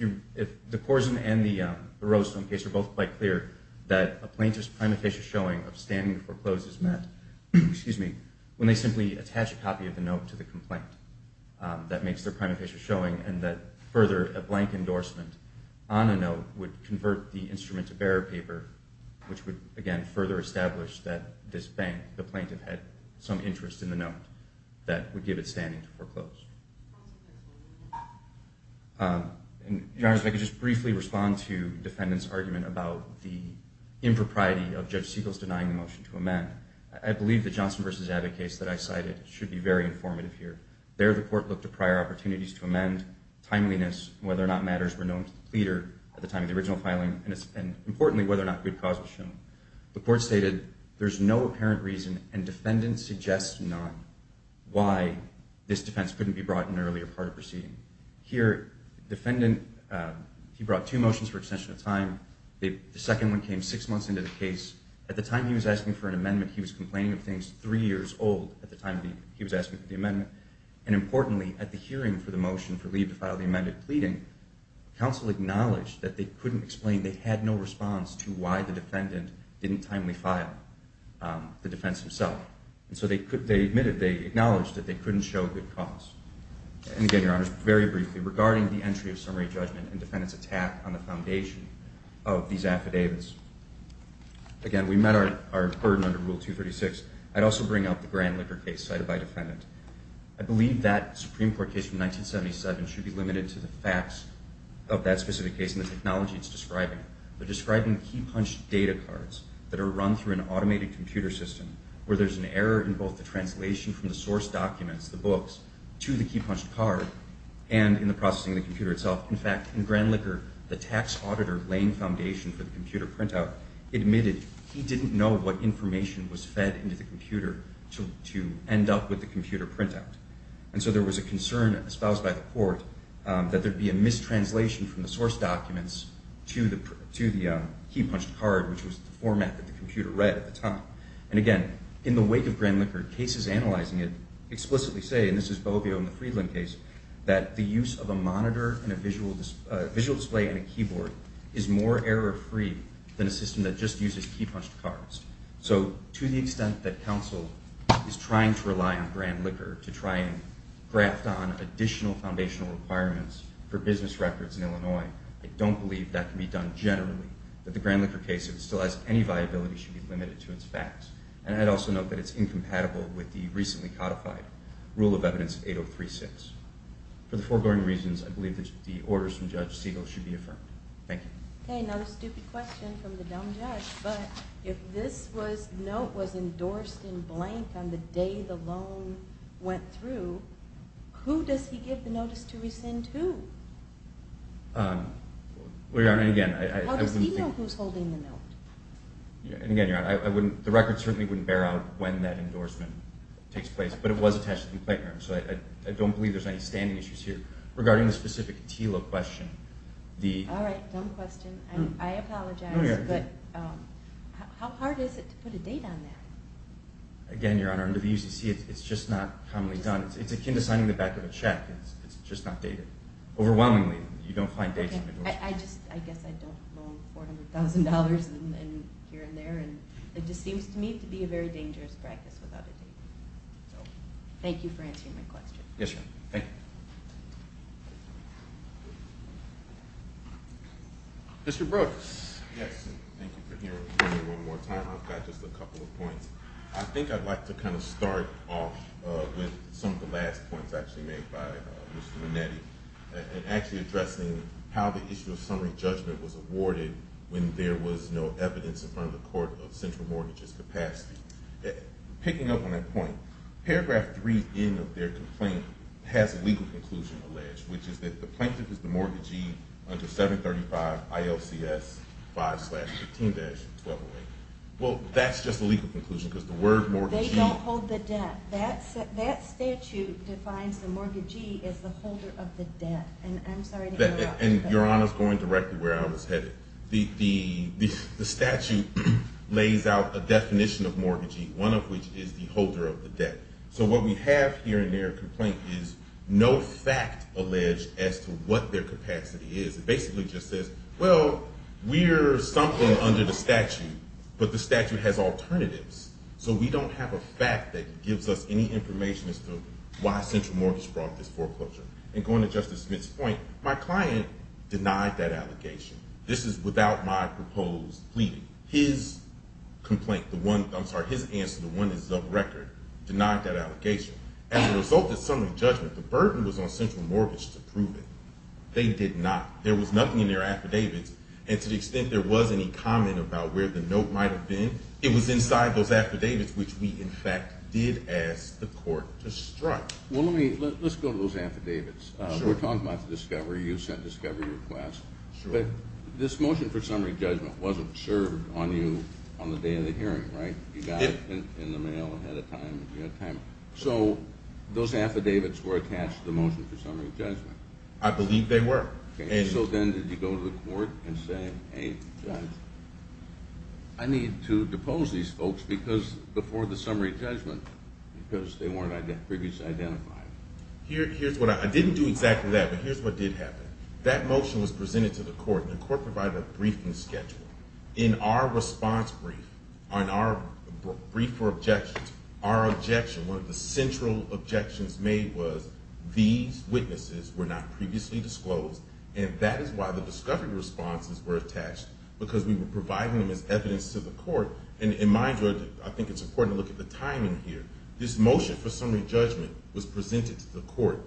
the Corzine and the Rosedome case are both quite clear that a plaintiff's prima facie showing of standing foreclosed is met, when they simply attach a copy of the note to the complaint, that makes their prima facie showing, and that further, a blank endorsement, on a note, would convert the instrument to bearer paper, which would, again, further establish that this bank, the plaintiff, had some interest in the note that would give it standing to foreclose. Your Honor, if I could just briefly respond to the defendant's argument about the impropriety of Judge Siegel's denying the motion to amend. I believe the Johnson v. Abbott case that I cited should be very informative here. There, the court looked at prior opportunities to amend, timeliness, whether or not matters were known to the pleader at the time of the original filing, and, importantly, whether or not good cause was shown. The court stated there's no apparent reason, and defendants suggest not, why this defense couldn't be brought in earlier part of proceeding. Here, the defendant, he brought two motions for extension of time. The second one came six months into the case. At the time he was asking for an amendment, he was complaining of things three years old at the time he was asking for the amendment. And, importantly, at the hearing for the motion for leave to file the amended pleading, counsel acknowledged that they couldn't explain they had no response to why the defendant didn't timely file the defense himself. And so they admitted, they acknowledged that they couldn't show good cause. And, again, Your Honor, very briefly, regarding the entry of summary judgment and defendant's attack on the foundation of these affidavits. Again, we met our burden under Rule 236. I'd also bring up the Grandlicker case cited by defendant. I believe that Supreme Court case from 1977 should be limited to the facts of that specific case and the technology it's describing. They're describing key-punched data cards that are run through an automated computer system where there's an error in both the translation from the source documents, the books, to the key-punched card, and in the processing of the computer itself. In fact, in Grandlicker, the tax auditor laying foundation for the computer printout admitted he didn't know what information was fed into the computer to end up with the computer printout. And so there was a concern espoused by the court that there'd be a mistranslation from the source documents to the key-punched card, which was the format that the computer read at the time. And, again, in the wake of Grandlicker, cases analyzing it explicitly say, and this is Bovio in the Friedland case, that the use of a monitor and a visual display and a keyboard is more error-free than a system that just uses key-punched cards. So to the extent that counsel is trying to rely on Grandlicker to try and graft on additional foundational requirements for business records in Illinois, I don't believe that can be done generally, but the Grandlicker case, if it still has any viability, should be limited to its facts. And I'd also note that it's incompatible with the recently codified rule of evidence 8036. For the foregoing reasons, I believe that the orders from Judge Siegel should be affirmed. Thank you. Okay, another stupid question from the dumb judge, but if this note was endorsed in blank on the day the loan went through, who does he give the notice to rescind to? Well, Your Honor, and again, I wouldn't think... How does he know who's holding the note? And, again, Your Honor, the record certainly wouldn't bear out when that endorsement takes place, but it was attached to the complaint note, so I don't believe there's any standing issues here. Regarding the specific TILA question, the... All right, dumb question. I apologize, but how hard is it to put a date on that? Again, Your Honor, under the UCC, it's just not commonly done. It's akin to signing the back of a check. It's just not dated. Overwhelmingly, you don't find dates on endorsements. I guess I don't loan $400,000 here and there, and it just seems to me to be a very dangerous practice without a date. So thank you for answering my question. Yes, Your Honor. Thank you. Mr. Brooks. Yes, and thank you for hearing me one more time. I've got just a couple of points. I think I'd like to kind of start off with some of the last points actually made by Mr. Minetti and actually addressing how the issue of summary judgment was awarded when there was no evidence in front of the court of central mortgage's capacity. Picking up on that point, paragraph 3N of their complaint has a legal conclusion alleged, which is that the plaintiff is the mortgagee under 735 ILCS 5-15-1208. Well, that's just a legal conclusion because the word mortgagee... They don't hold the debt. That statute defines the mortgagee as the holder of the debt. I'm sorry to interrupt. Your Honor is going directly where I was headed. The statute lays out a definition of mortgagee, one of which is the holder of the debt. So what we have here in their complaint is no fact alleged as to what their capacity is. It basically just says, well, we're something under the statute, but the statute has alternatives. So we don't have a fact that gives us any information as to why central mortgage brought this foreclosure. And going to Justice Smith's point, my client denied that allegation. This is without my proposed pleading. His answer, the one that's of record, denied that allegation. As a result of summary judgment, the burden was on central mortgage to prove it. They did not. There was nothing in their affidavits, and to the extent there was any comment about where the note might have been, it was inside those affidavits, which we, in fact, did ask the court to strike. Well, let's go to those affidavits. We're talking about the discovery. You sent discovery requests. But this motion for summary judgment wasn't served on you on the day of the hearing, right? You got it in the mail ahead of time. So those affidavits were attached to the motion for summary judgment. I believe they were. So then did you go to the court and say, hey, I need to depose these folks before the summary judgment because they weren't previously identified? I didn't do exactly that, but here's what did happen. That motion was presented to the court, and the court provided a briefing schedule. In our response brief, in our brief for objections, our objection, one of the central objections made was these witnesses were not previously disclosed, and that is why the discovery responses were attached, because we were providing them as evidence to the court. And in my judgment, I think it's important to look at the timing here. This motion for summary judgment was presented to the court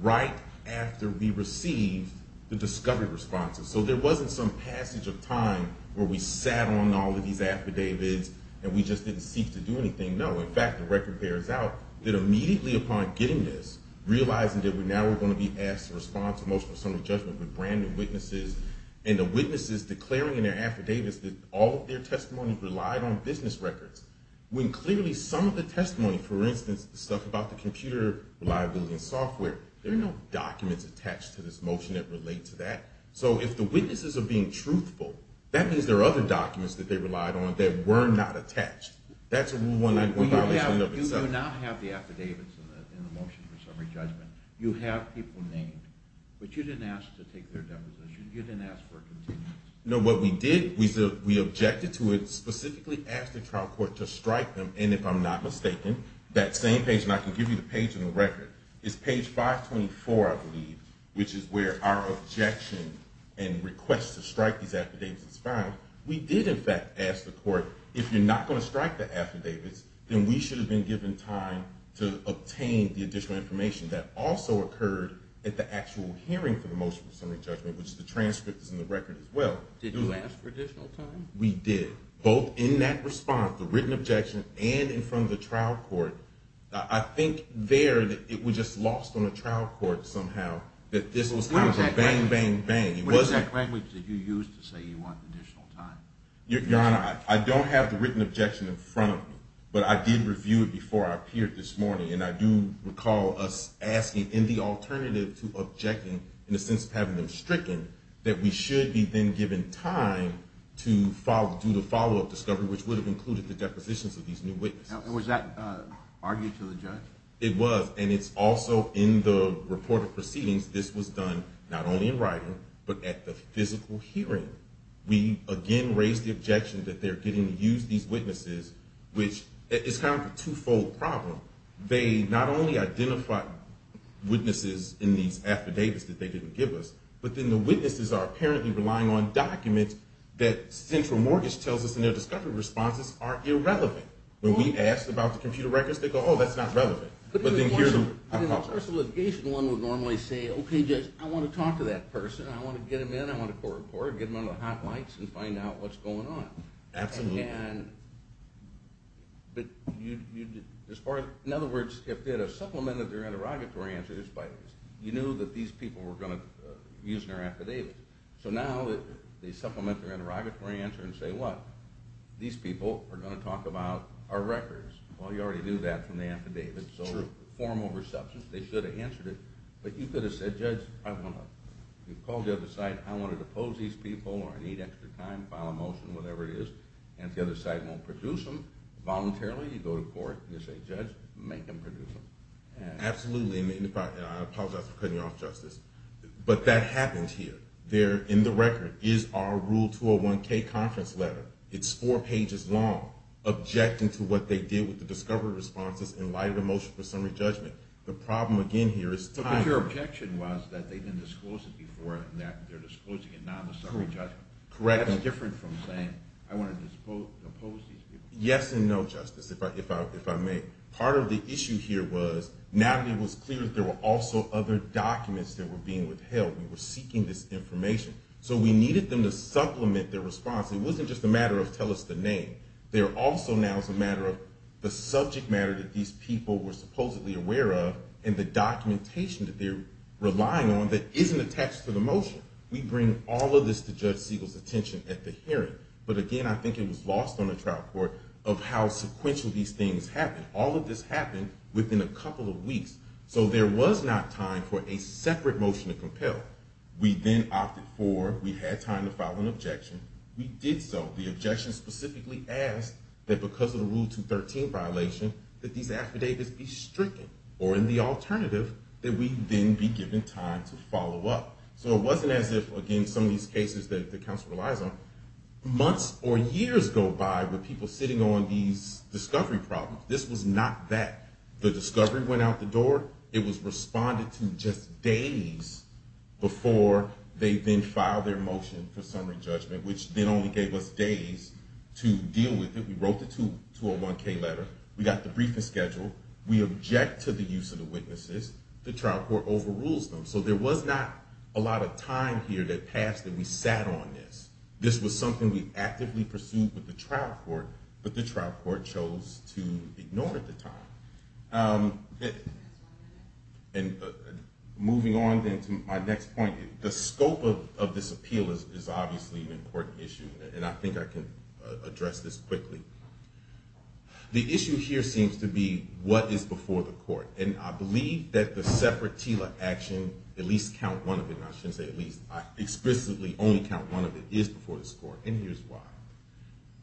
right after we received the discovery responses. So there wasn't some passage of time where we sat on all of these affidavits and we just didn't seek to do anything. No, in fact, the record bears out that immediately upon getting this, realizing that now we're going to be asked to respond to motion for summary judgment with brand new witnesses, and the witnesses declaring in their affidavits that all of their testimonies relied on business records, when clearly some of the testimony, for instance, the stuff about the computer reliability and software, there are no documents attached to this motion that relate to that. So if the witnesses are being truthful, that means there are other documents that they relied on that were not attached. That's a Rule 191 violation of itself. You do not have the affidavits in the motion for summary judgment. You have people named, but you didn't ask to take their deposition. You didn't ask for a continuity. No, what we did, we objected to it, specifically asked the trial court to strike them, and if I'm not mistaken, that same page, and I can give you the page in the record, it's page 524, I believe, which is where our objection and request to strike these affidavits is found. We did, in fact, ask the court, if you're not going to strike the affidavits, then we should have been given time to obtain the additional information. That also occurred at the actual hearing for the motion for summary judgment, which the transcript is in the record as well. Did you ask for additional time? We did. Both in that response, the written objection, and in front of the trial court, I think there it was just lost on the trial court somehow that this was kind of a bang, bang, bang. What exact language did you use to say you want additional time? Your Honor, I don't have the written objection in front of me, but I did review it before I appeared this morning, and I do recall us asking in the alternative to objecting, in the sense of having them stricken, that we should be then given time to do the follow-up discovery, which would have included the depositions of these new witnesses. Was that argued to the judge? It was, and it's also in the report of proceedings. This was done not only in writing, but at the physical hearing. We again raised the objection that they're getting to use these witnesses, which is kind of a two-fold problem. They not only identified witnesses in these affidavits that they didn't give us, but then the witnesses are apparently relying on documents that Central Mortgage tells us, and their discovery responses are irrelevant. When we asked about the computer records, they go, oh, that's not relevant. But in the course of litigation, one would normally say, okay, judge, I want to talk to that person, I want to get them in, I want to get them on the hot lights and find out what's going on. Absolutely. But in other words, if they had supplemented their interrogatory answers, you knew that these people were going to use their affidavits. So now they supplement their interrogatory answer and say, what? These people are going to talk about our records. Well, you already knew that from the affidavit, so form over substance. They should have answered it, but you could have said, judge, I want to call the other side, I want to depose these people, or I need extra time, file a motion, whatever it is, and the other side won't produce them voluntarily. You go to court, you say, judge, make them produce them. Absolutely. I apologize for cutting you off, Justice. But that happens here. There in the record is our Rule 201K conference letter. It's four pages long, objecting to what they did with the discovery responses in light of the motion for summary judgment. The problem, again, here is time. But your objection was that they didn't disclose it before, and that they're disclosing it now in the summary judgment. Correct. That's different from saying, I want to depose these people. Yes and no, Justice, if I may. Part of the issue here was Natalie was clear that there were also other documents that were being withheld. We were seeking this information. So we needed them to supplement their response. It wasn't just a matter of tell us the name. There also now is a matter of the subject matter that these people were supposedly aware of and the documentation that they're relying on that isn't attached to the motion. We bring all of this to Judge Siegel's attention at the hearing. But, again, I think it was lost on the trial court of how sequential these things happened. All of this happened within a couple of weeks. So there was not time for a separate motion to compel. We then opted for we had time to file an objection. We did so. The objection specifically asked that because of the Rule 213 violation that these affidavits be stricken or in the alternative that we then be given time to follow up. So it wasn't as if, again, some of these cases that the counsel relies on. Months or years go by with people sitting on these discovery problems. The discovery went out the door. It was responded to just days before they then filed their motion for summary judgment, which then only gave us days to deal with it. We wrote the 201-K letter. We got the briefing schedule. We object to the use of the witnesses. The trial court overrules them. So there was not a lot of time here that passed that we sat on this. This was something we actively pursued with the trial court, but the trial court chose to ignore it at the time. And moving on then to my next point, the scope of this appeal is obviously an important issue, and I think I can address this quickly. The issue here seems to be what is before the court. And I believe that the separate TILA action, at least count one of it, and I shouldn't say at least, I explicitly only count one of it, is before this court, and here's why.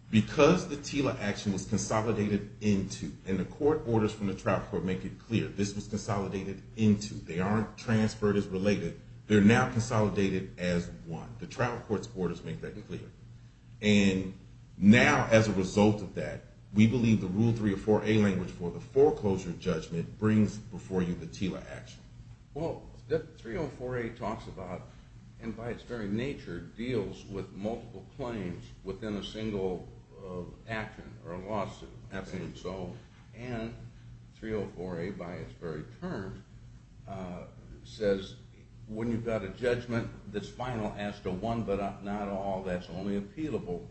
Because the TILA action was consolidated into, and the court orders from the trial court make it clear, this was consolidated into. They aren't transferred as related. They're now consolidated as one. The trial court's orders make that clear. And now, as a result of that, we believe the Rule 304A language for the foreclosure judgment brings before you the TILA action. Well, 304A talks about, and by its very nature, deals with multiple claims within a single action or lawsuit. And 304A, by its very term, says when you've got a judgment that's final as to one but not all, that's only appealable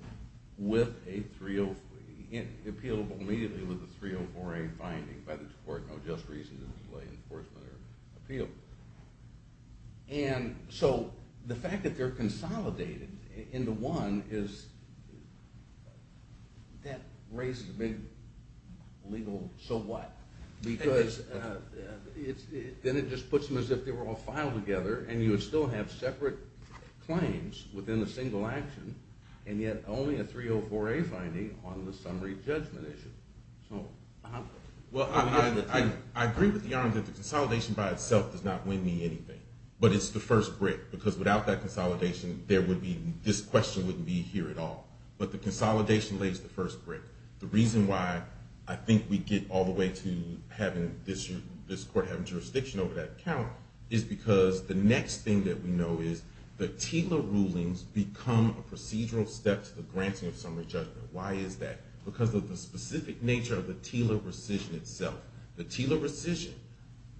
with a 304A, appealable immediately with a 304A finding by the court, no just reason to delay enforcement or appeal. And so the fact that they're consolidated into one is, that raises a big legal so what. Because then it just puts them as if they were all filed together, and you would still have separate claims within a single action, and yet only a 304A finding on the summary judgment issue. Well, I agree with you, Your Honor, that the consolidation by itself does not win me anything. But it's the first brick, because without that consolidation, there would be, this question wouldn't be here at all. But the consolidation lays the first brick. The reason why I think we get all the way to this court having jurisdiction over that account is because the next thing that we know is the TILA rulings become a procedural step to the granting of summary judgment. Why is that? Because of the specific nature of the TILA rescission itself. The TILA rescission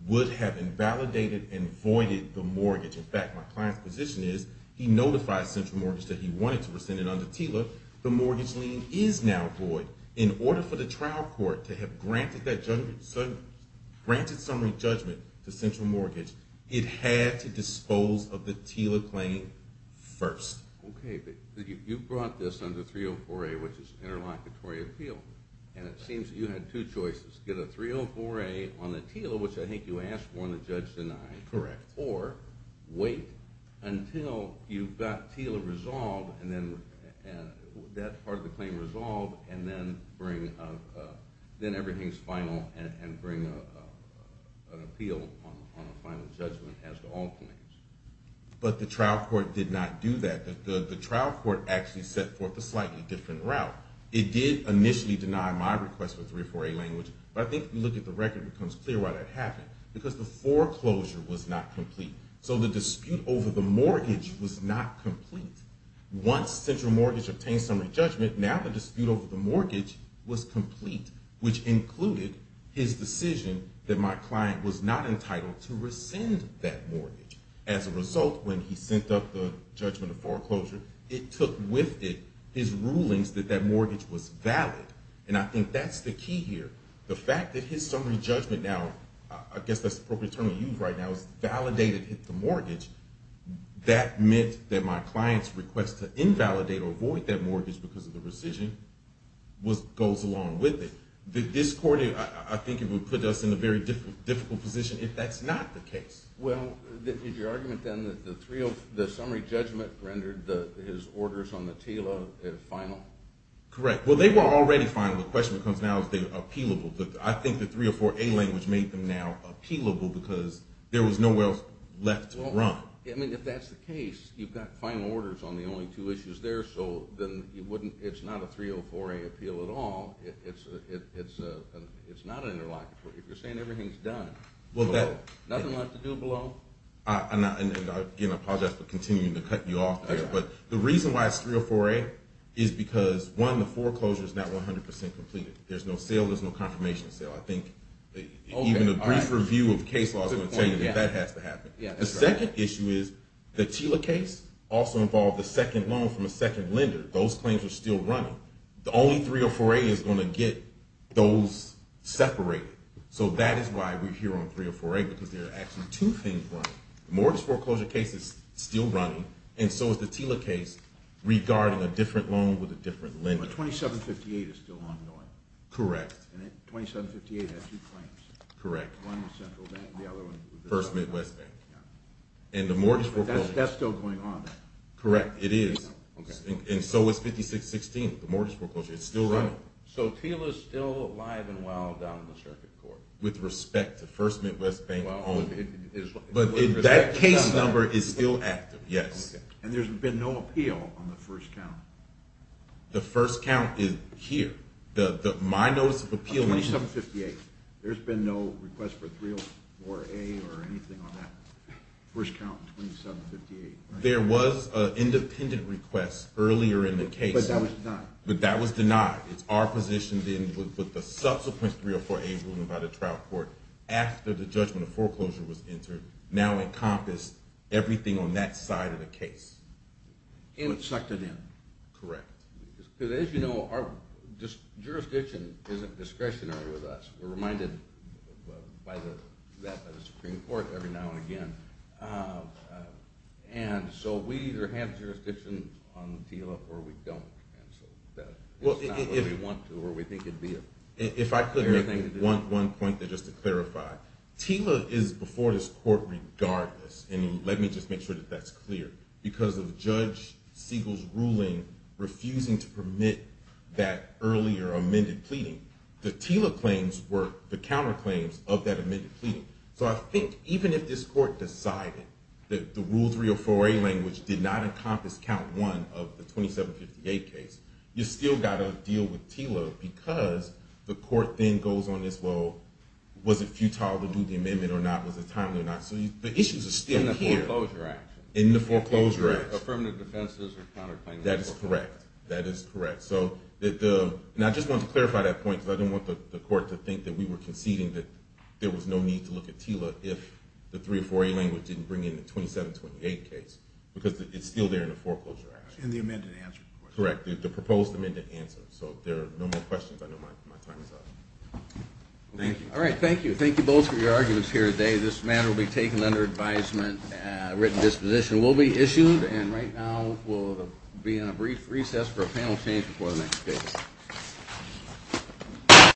would have invalidated and voided the mortgage. In fact, my client's position is, he notified Central Mortgage that he wanted to rescind it under TILA. The mortgage lien is now void. In order for the trial court to have granted that summary judgment to Central Mortgage, it had to dispose of the TILA claim first. Okay, but you brought this under 304A, which is interlocutory appeal, and it seems that you had two choices. Get a 304A on the TILA, which I think you asked for and the judge denied. Correct. Or wait until you've got TILA resolved, that part of the claim resolved, and then everything is final and bring an appeal on a final judgment as to all claims. But the trial court did not do that. The trial court actually set forth a slightly different route. It did initially deny my request for 304A language, but I think if you look at the record, it becomes clear why that happened. Because the foreclosure was not complete. So the dispute over the mortgage was not complete. Once Central Mortgage obtained summary judgment, now the dispute over the mortgage was complete, which included his decision that my client was not entitled to rescind that mortgage. As a result, when he sent up the judgment of foreclosure, it took with it his rulings that that mortgage was valid. And I think that's the key here. The fact that his summary judgment now, I guess that's the appropriate term to use right now, is validated at the mortgage, that meant that my client's request to invalidate or avoid that mortgage because of the rescission goes along with it. This court, I think it would put us in a very difficult position if that's not the case. Well, did your argument then that the summary judgment rendered his orders on the TILA final? Correct. Well, they were already final. The question becomes now, are they appealable? I think the 304A language made them now appealable because there was nowhere else left to run. I mean, if that's the case, you've got final orders on the only two issues there, so then it's not a 304A appeal at all. It's not an interlocutory. If you're saying everything's done, nothing left to do below? And again, I apologize for continuing to cut you off there. But the reason why it's 304A is because, one, the foreclosure is not 100% completed. There's no sale. There's no confirmation sale. I think even a brief review of case law is going to tell you that that has to happen. The second issue is the TILA case also involved a second loan from a second lender. Those claims are still running. The only 304A is going to get those separated. So that is why we're here on 304A because there are actually two things running. The mortgage foreclosure case is still running, and so is the TILA case regarding a different loan with a different lender. But 2758 is still ongoing. Correct. And 2758 has two claims. Correct. One with Central Bank, the other one with First Midwest Bank. But that's still going on. Correct, it is. And so is 5616, the mortgage foreclosure. It's still running. So TILA's still alive and well down in the circuit court. With respect to First Midwest Bank. But that case number is still active, yes. And there's been no appeal on the first count. The first count is here. My notice of appeal. 2758. There's been no request for 304A or anything on that first count, 2758. There was an independent request earlier in the case. But that was denied. But that was denied. It's our position, then, with the subsequent 304A ruling by the trial court, after the judgment of foreclosure was entered, now encompass everything on that side of the case. It sucked it in. Correct. Because, as you know, our jurisdiction isn't discretionary with us. We're reminded of that by the Supreme Court every now and again. And so we either have jurisdiction on TILA or we don't. Well, if I could make one point just to clarify. TILA is before this court regardless. And let me just make sure that that's clear. Because of Judge Siegel's ruling refusing to permit that earlier amended pleading, the TILA claims were the counterclaims of that amended pleading. So I think even if this court decided that the rule 304A language did not encompass count one of the 2758 case, you still got to deal with TILA because the court then goes on this, well, was it futile to do the amendment or not? Was it timely or not? So the issues are still here. In the foreclosure action. In the foreclosure action. Affirmative defenses or counterclaims. That is correct. That is correct. And I just want to clarify that point because I don't want the court to think that we were conceding that there was no need to look at TILA if the 304A language didn't bring in the 2728 case. Because it's still there in the foreclosure action. In the amended answer. Correct. The proposed amended answer. So if there are no more questions, I know my time is up. Thank you. All right, thank you. Thank you both for your arguments here today. This matter will be taken under advisement. A written disposition will be issued. And right now we'll be in a brief recess for a panel change before the next case.